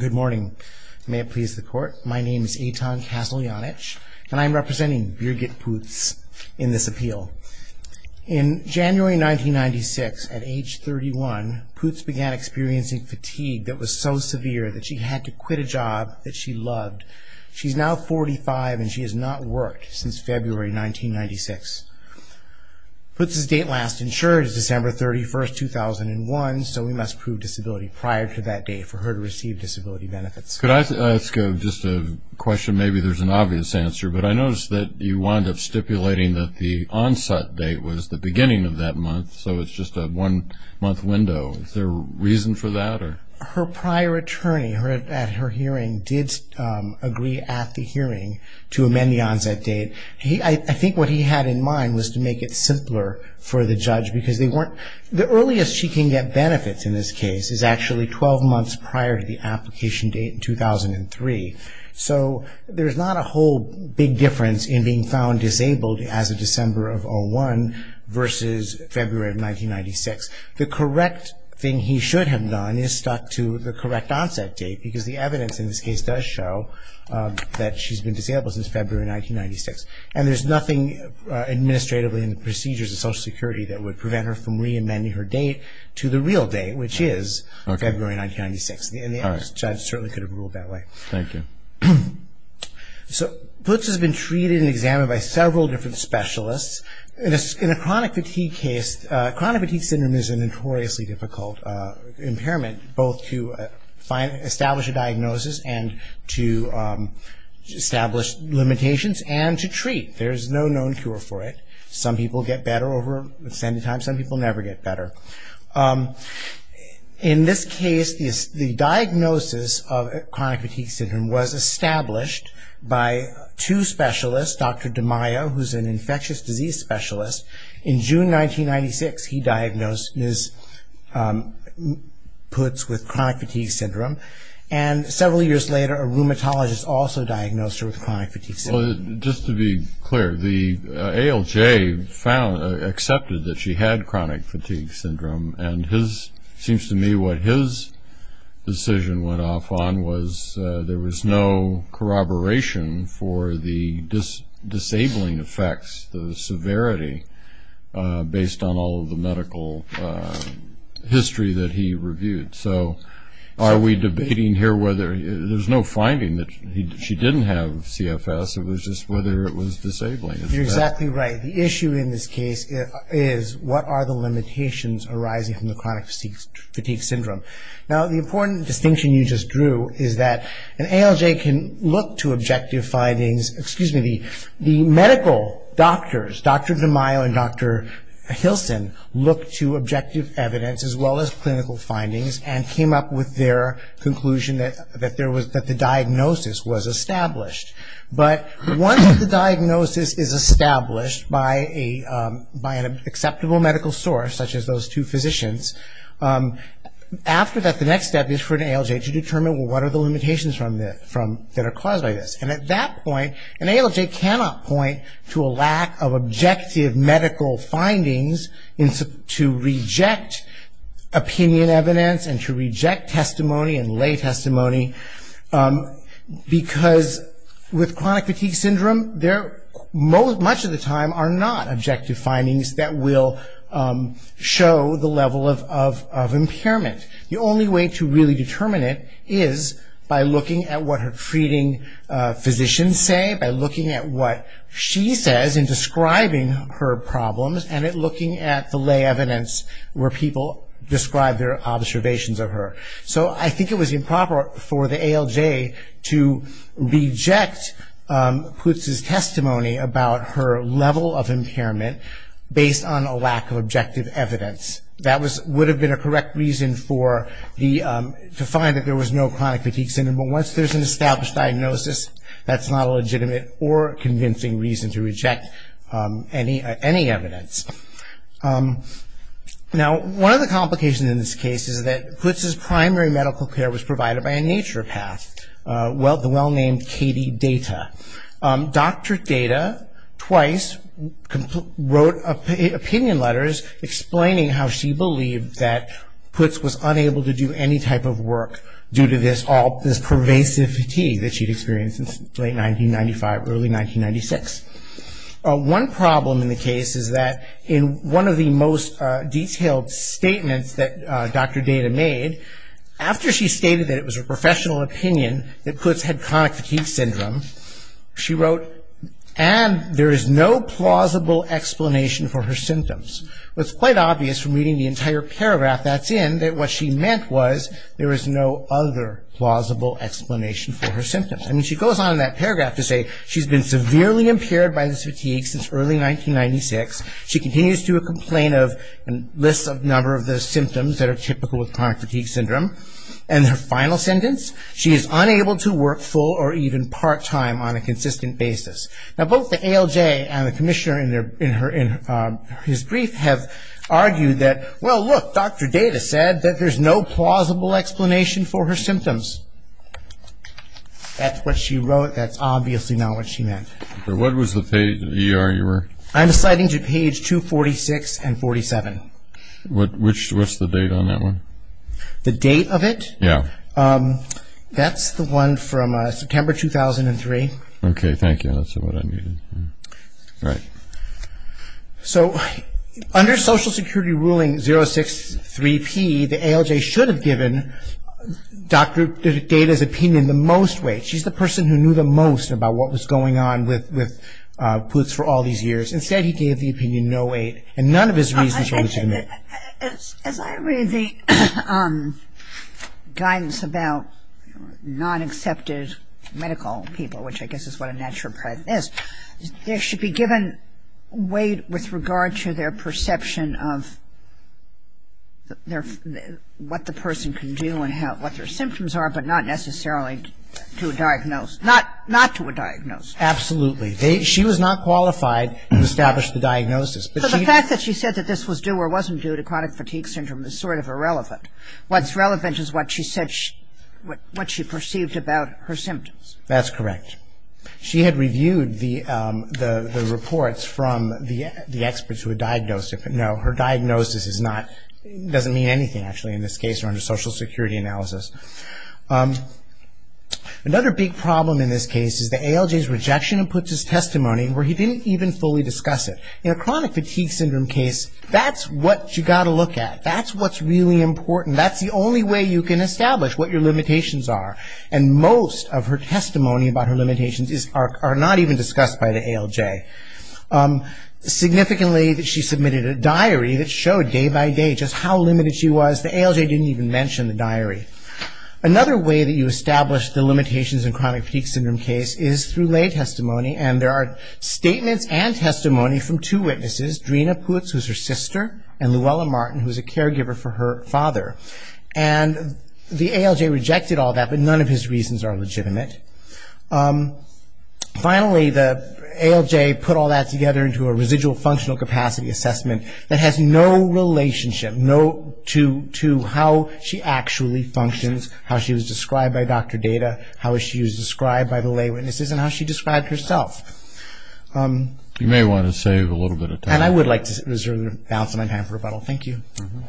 Good morning. May it please the court. My name is Eitan Kassel-Janich, and I'm representing Birgit Putz in this appeal. In January 1996, at age 31, Putz began experiencing fatigue that was so severe that she had to quit a job that she loved. She's now 45, and she has not worked since February 1996. Putz's date last insured is December 31, 2001, so we must prove disability prior to that date for her to receive disability benefits. Could I ask just a question? Maybe there's an obvious answer, but I noticed that you wound up stipulating that the onset date was the beginning of that month, so it's just a one-month window. Is there a reason for that? Her prior attorney at her hearing did agree at the hearing to amend the onset date. I think what he had in mind was to make it simpler for the judge, because the earliest she can get benefits in this case is actually 12 months prior to the application date in 2003, so there's not a whole big difference in being found disabled as of December of 2001 versus February of 1996. The correct thing he should have done is stuck to the correct onset date, because the evidence in this case does show that she's been disabled since February 1996, and there's nothing administratively in the procedures of Social Security that would prevent her from reamending her date to the real date, which is February 1996, and the judge certainly could have ruled that way. Thank you. So Putz has been treated and examined by several different specialists. In a chronic fatigue case, chronic fatigue syndrome is a notoriously difficult impairment, both to establish a diagnosis and to establish limitations, and to treat. There's no known cure for it. Some people get better over extended time. Some people never get better. In this case, the diagnosis of chronic fatigue syndrome was established by two specialists, Dr. DiMaio, who's an infectious disease specialist. In June 1996, he diagnosed Ms. Putz with chronic fatigue syndrome, and several years later a rheumatologist also diagnosed her with chronic fatigue syndrome. Well, just to be clear, the ALJ accepted that she had chronic fatigue syndrome, and it seems to me what his decision went off on was there was no corroboration for the disabling effects, the severity, based on all of the medical history that he reviewed. So are we debating here whether there's no finding that she didn't have CFS, it was just whether it was disabling. You're exactly right. The issue in this case is what are the limitations arising from the chronic fatigue syndrome. Now, the important distinction you just drew is that an ALJ can look to objective findings, excuse me, the medical doctors, Dr. DiMaio and Dr. Hilson, look to objective evidence as well as clinical findings and came up with their conclusion that the diagnosis was established. But once the diagnosis is established by an acceptable medical source, such as those two physicians, after that the next step is for an ALJ to determine, well, what are the limitations that are caused by this. And at that point, an ALJ cannot point to a lack of objective medical findings to reject opinion evidence and to reject testimony and lay testimony because with chronic fatigue syndrome, there much of the time are not objective findings that will show the level of impairment. The only way to really determine it is by looking at what her treating physicians say, by looking at what she says in describing her problems and looking at the lay evidence where people describe their observations of her. So I think it was improper for the ALJ to reject Putz's testimony about her level of impairment based on a lack of objective evidence. That would have been a correct reason to find that there was no chronic fatigue syndrome. But once there's an established diagnosis, that's not a legitimate or convincing reason to reject any evidence. Now, one of the complications in this case is that Putz's primary medical care was provided by a naturopath, the well-named Katie Data. Dr. Data twice wrote opinion letters explaining how she believed that Putz was unable to do any type of work due to this pervasive fatigue that she'd experienced since late 1995, early 1996. One problem in the case is that in one of the most detailed statements that Dr. Data made, after she stated that it was a professional opinion that Putz had chronic fatigue syndrome, she wrote, and there is no plausible explanation for her symptoms. It was quite obvious from reading the entire paragraph that's in that what she meant was there was no other plausible explanation for her symptoms. I mean, she goes on in that paragraph to say she's been severely impaired by this fatigue since early 1996. She continues to do a complaint of and lists a number of the symptoms that are typical of chronic fatigue syndrome. And her final sentence, she is unable to work full or even part-time on a consistent basis. Now, both the ALJ and the commissioner in his brief have argued that, well, look, Dr. Data said that there's no plausible explanation for her symptoms. That's what she wrote. That's obviously not what she meant. What was the page in the ER you were? I'm citing to page 246 and 47. What's the date on that one? The date of it? Yeah. That's the one from September 2003. Okay, thank you. That's what I needed. All right. So under Social Security ruling 063P, the ALJ should have given Dr. Data's opinion the most weight. She's the person who knew the most about what was going on with Putz for all these years. Instead, he gave the opinion 08, and none of his reasons were legitimate. As I read the guidance about non-accepted medical people, which I guess is what a naturopath is, there should be given weight with regard to their perception of what the person can do and what their symptoms are, but not necessarily to a diagnosed, not to a diagnosed. Absolutely. She was not qualified to establish the diagnosis. So the fact that she said that this was due or wasn't due to chronic fatigue syndrome is sort of irrelevant. What's relevant is what she said, what she perceived about her symptoms. That's correct. She had reviewed the reports from the experts who had diagnosed her. No, her diagnosis doesn't mean anything, actually, in this case, under Social Security analysis. Another big problem in this case is the ALJ's rejection of Putz's testimony where he didn't even fully discuss it. In a chronic fatigue syndrome case, that's what you've got to look at. That's what's really important. That's the only way you can establish what your limitations are, and most of her testimony about her limitations are not even discussed by the ALJ. Significantly, she submitted a diary that showed day by day just how limited she was. The ALJ didn't even mention the diary. Another way that you establish the limitations in a chronic fatigue syndrome case is through lay testimony, and there are statements and testimony from two witnesses, Dreena Putz, who's her sister, and Luella Martin, who's a caregiver for her father. And the ALJ rejected all that, but none of his reasons are legitimate. Finally, the ALJ put all that together into a residual functional capacity assessment that has no relationship to how she actually functions, how she was described by Dr. Data, how she was described by the lay witnesses, and how she described herself. You may want to save a little bit of time. And I would like to reserve the balance of my time for rebuttal. Thank you. Thank you.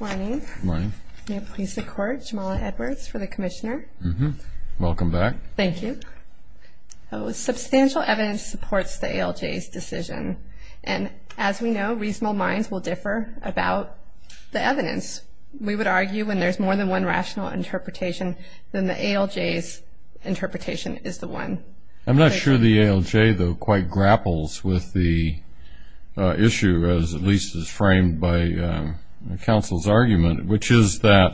Good morning. Good morning. May it please the Court, Jamala Edwards for the Commissioner. Welcome back. Thank you. Substantial evidence supports the ALJ's decision, and as we know, reasonable minds will differ about the evidence. We would argue when there's more than one rational interpretation, then the ALJ's interpretation is the one. I'm not sure the ALJ, though, quite grapples with the issue, as at least is framed by counsel's argument, which is that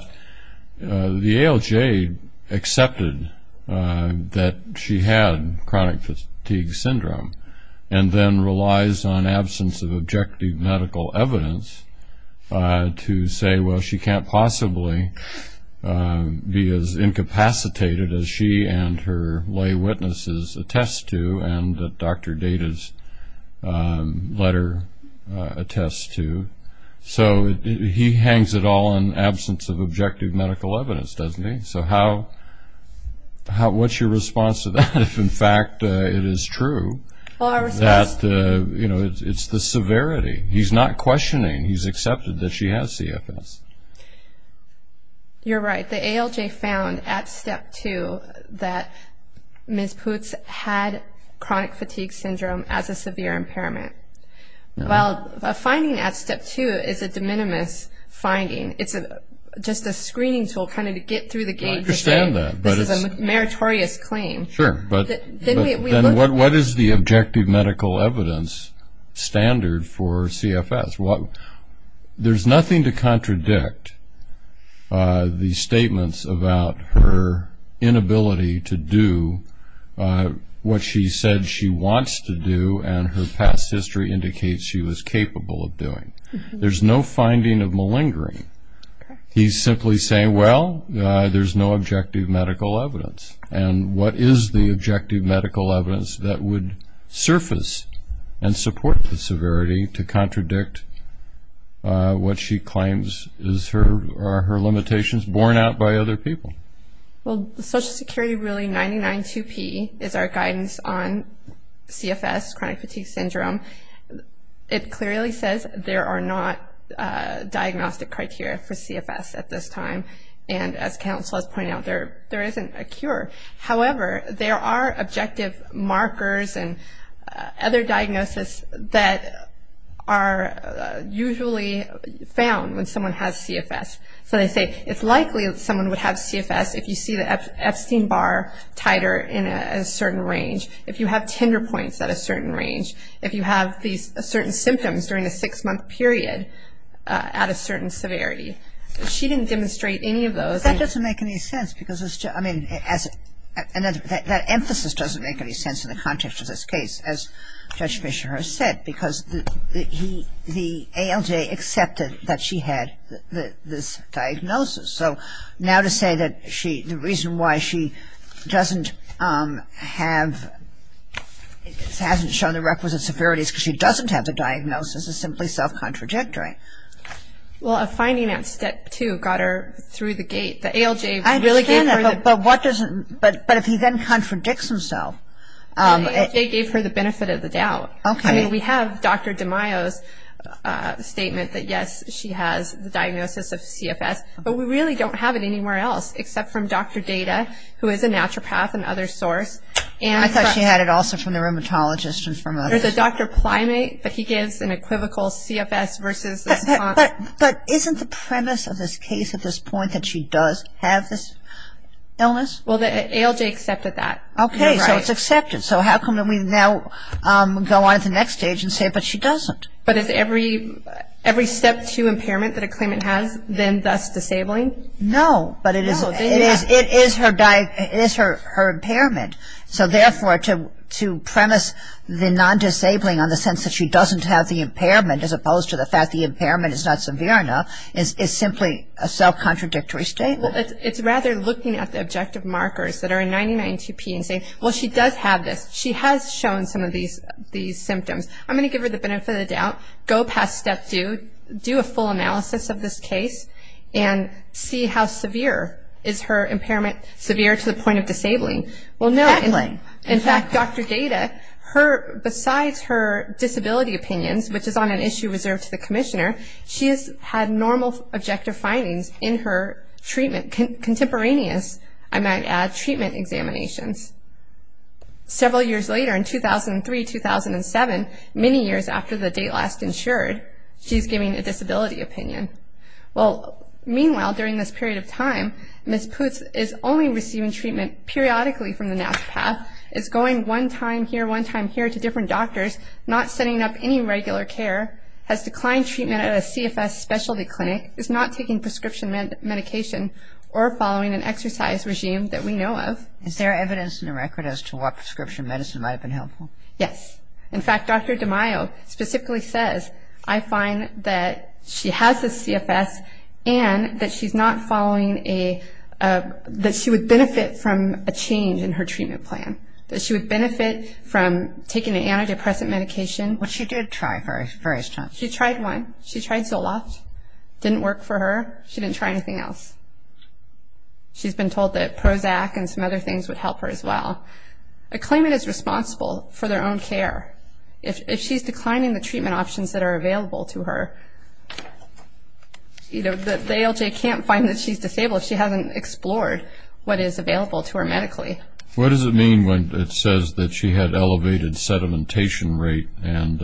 the ALJ accepted that she had chronic fatigue syndrome and then relies on absence of objective medical evidence to say, well, she can't possibly be as incapacitated as she and her lay witnesses attest to and that Dr. Data's letter attests to. So he hangs it all on absence of objective medical evidence, doesn't he? So what's your response to that if, in fact, it is true that it's the severity? He's not questioning. He's accepted that she has CFS. You're right. The ALJ found at step two that Ms. Putz had chronic fatigue syndrome as a severe impairment. While a finding at step two is a de minimis finding, it's just a screening tool kind of to get through the gate and say this is a meritorious claim. Sure, but then what is the objective medical evidence standard for CFS? Well, there's nothing to contradict the statements about her inability to do what she said she wants to do and her past history indicates she was capable of doing. There's no finding of malingering. He's simply saying, well, there's no objective medical evidence. And what is the objective medical evidence that would surface and support the severity to contradict what she claims are her limitations borne out by other people? Well, the Social Security Ruling 99-2P is our guidance on CFS, chronic fatigue syndrome. It clearly says there are not diagnostic criteria for CFS at this time, and as counsel has pointed out, there isn't a cure. However, there are objective markers and other diagnosis that are usually found when someone has CFS. So they say it's likely someone would have CFS if you see the Epstein-Barr titer in a certain range, if you have tinder points at a certain range, if you have these certain symptoms during a six-month period at a certain severity. She didn't demonstrate any of those. That doesn't make any sense because it's just, I mean, that emphasis doesn't make any sense in the context of this case, as Judge Fischer has said, because the ALJ accepted that she had this diagnosis. So now to say that she, the reason why she doesn't have, hasn't shown the requisite severities because she doesn't have the diagnosis is simply self-contradictory. Well, a finding at Step 2 got her through the gate. The ALJ really gave her the benefit. I understand that, but what does, but if he then contradicts himself. The ALJ gave her the benefit of the doubt. Okay. I mean, we have Dr. DeMaio's statement that, yes, she has the diagnosis of CFS, but we really don't have it anywhere else except from Dr. Data, who is a naturopath and other source. I thought she had it also from the rheumatologist and from others. There's a Dr. Plymate, but he gives an equivocal CFS versus. But isn't the premise of this case at this point that she does have this illness? Well, the ALJ accepted that. Okay, so it's accepted. So how come we now go on to the next stage and say, but she doesn't? But is every Step 2 impairment that a claimant has then thus disabling? No, but it is her impairment. So, therefore, to premise the non-disabling on the sense that she doesn't have the impairment, as opposed to the fact the impairment is not severe enough, is simply a self-contradictory statement. It's rather looking at the objective markers that are in 992P and saying, well, she does have this. She has shown some of these symptoms. I'm going to give her the benefit of the doubt, go past Step 2, do a full analysis of this case, and see how severe is her impairment, severe to the point of disabling. In fact, Dr. Data, besides her disability opinions, which is on an issue reserved to the commissioner, she has had normal objective findings in her treatment, contemporaneous, I might add, treatment examinations. Several years later, in 2003-2007, many years after the date last insured, she's giving a disability opinion. Well, meanwhile, during this period of time, Ms. Putz is only receiving treatment periodically from the NASPATH, is going one time here, one time here to different doctors, not setting up any regular care, has declined treatment at a CFS specialty clinic, is not taking prescription medication or following an exercise regime that we know of. Is there evidence in the record as to what prescription medicine might have been helpful? Yes. In fact, Dr. DiMaio specifically says, I find that she has a CFS and that she's not following a – that she would benefit from a change in her treatment plan, that she would benefit from taking an antidepressant medication. But she did try various times. She tried one. She tried Zoloft. Didn't work for her. She didn't try anything else. She's been told that Prozac and some other things would help her as well. A claimant is responsible for their own care. If she's declining the treatment options that are available to her, the ALJ can't find that she's disabled if she hasn't explored what is available to her medically. What does it mean when it says that she had elevated sedimentation rate and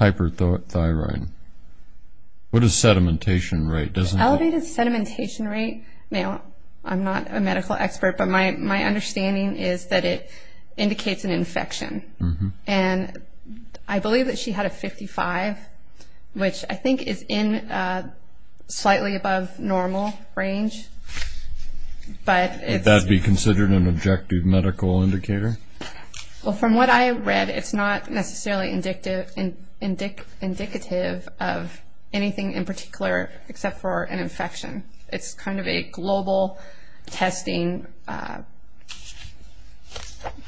hyperthyroid? What is sedimentation rate? Elevated sedimentation rate, now I'm not a medical expert, but my understanding is that it indicates an infection. And I believe that she had a 55, which I think is in slightly above normal range. Would that be considered an objective medical indicator? Well, from what I read, it's not necessarily indicative of anything in particular, except for an infection. It's kind of a global testing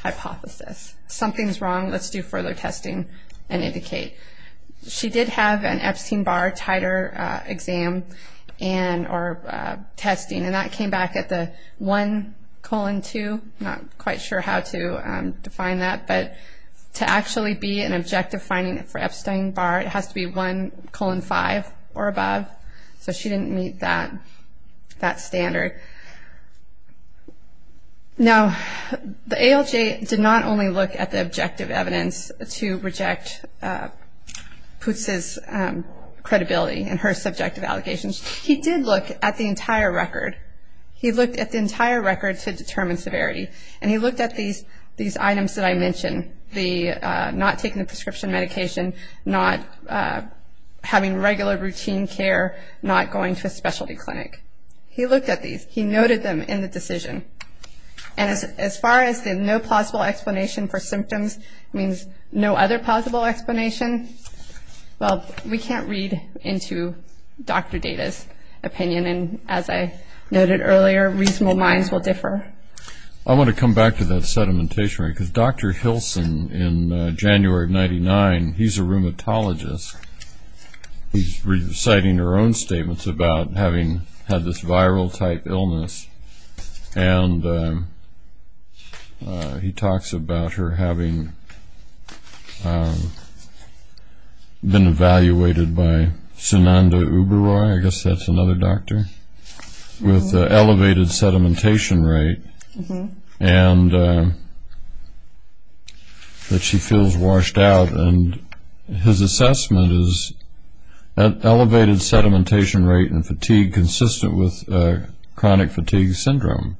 hypothesis. Something's wrong. Let's do further testing and indicate. She did have an Epstein-Barr titer exam or testing, and that came back at the 1 colon 2. I'm not quite sure how to define that, but to actually be an objective finding for Epstein-Barr, it has to be 1 colon 5 or above. So she didn't meet that standard. Now, the ALJ did not only look at the objective evidence to reject Putz's credibility and her subjective allegations. He did look at the entire record. He looked at the entire record to determine severity, and he looked at these items that I mentioned, not taking the prescription medication, not having regular routine care, not going to a specialty clinic. He looked at these. He noted them in the decision. And as far as the no plausible explanation for symptoms means no other plausible explanation, well, we can't read into Dr. Data's opinion. And as I noted earlier, reasonable minds will differ. I want to come back to that sedimentation, because Dr. Hilson, in January of 1999, he's a rheumatologist. He's reciting her own statements about having had this viral-type illness, and he talks about her having been evaluated by Sunanda Oberoi, I guess that's another doctor, with elevated sedimentation rate, and that she feels washed out. And his assessment is elevated sedimentation rate and fatigue consistent with chronic fatigue syndrome.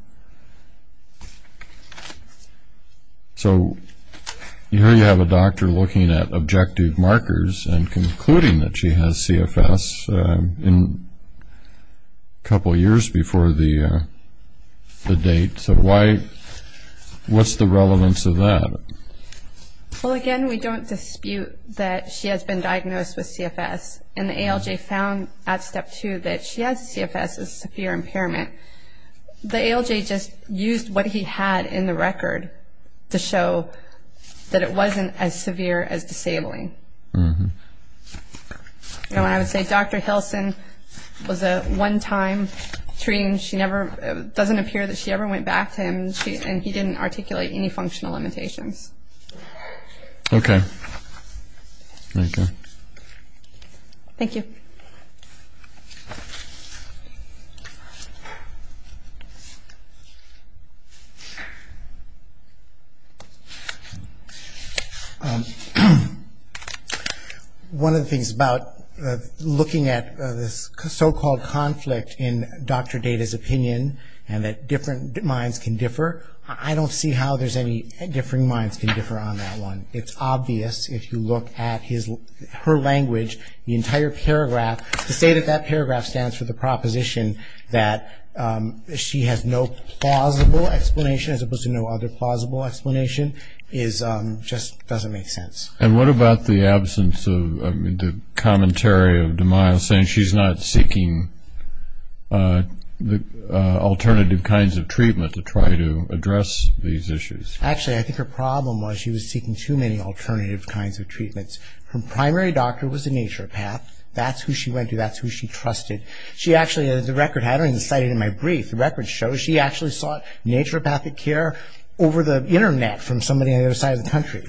So here you have a doctor looking at objective markers and concluding that she has CFS a couple years before the date. So what's the relevance of that? Well, again, we don't dispute that she has been diagnosed with CFS, and the ALJ found at step two that she has CFS, a severe impairment. The ALJ just used what he had in the record to show that it wasn't as severe as disabling. And I would say Dr. Hilson was a one-time treatment. It doesn't appear that she ever went back to him, and he didn't articulate any functional limitations. Okay. Thank you. Okay. One of the things about looking at this so-called conflict in Dr. Data's opinion and that different minds can differ, I don't see how there's any differing minds can differ on that one. It's obvious if you look at her language, the entire paragraph, to say that that paragraph stands for the proposition that she has no plausible explanation as opposed to no other plausible explanation just doesn't make sense. And what about the absence of the commentary of DeMille saying she's not seeking alternative kinds of treatment to try to address these issues? Actually, I think her problem was she was seeking too many alternative kinds of treatments. Her primary doctor was a naturopath. That's who she went to. That's who she trusted. She actually, the record had her, and cited in my brief. The record shows she actually sought naturopathic care over the Internet from somebody on the other side of the country.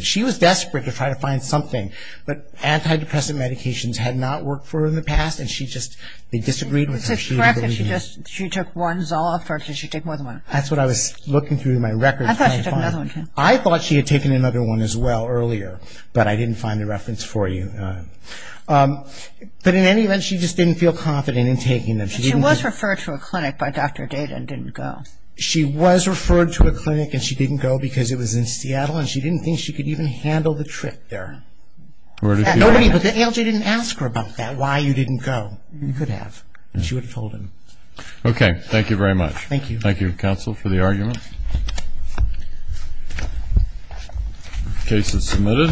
She was desperate to try to find something, but antidepressant medications had not worked for her in the past, and she just, they disagreed with her. She took one Zoloft, or did she take more than one? That's what I was looking through my records trying to find. I thought she took another one, too. I thought she had taken another one as well earlier, but I didn't find the reference for you. But in any event, she just didn't feel confident in taking them. She was referred to a clinic by Dr. Dayton and didn't go. She was referred to a clinic and she didn't go because it was in Seattle, and she didn't think she could even handle the trip there. Nobody, but the ALJ didn't ask her about that, why you didn't go. You could have, and she would have told him. Okay, thank you very much. Thank you. Thank you, counsel, for the argument. Case is submitted.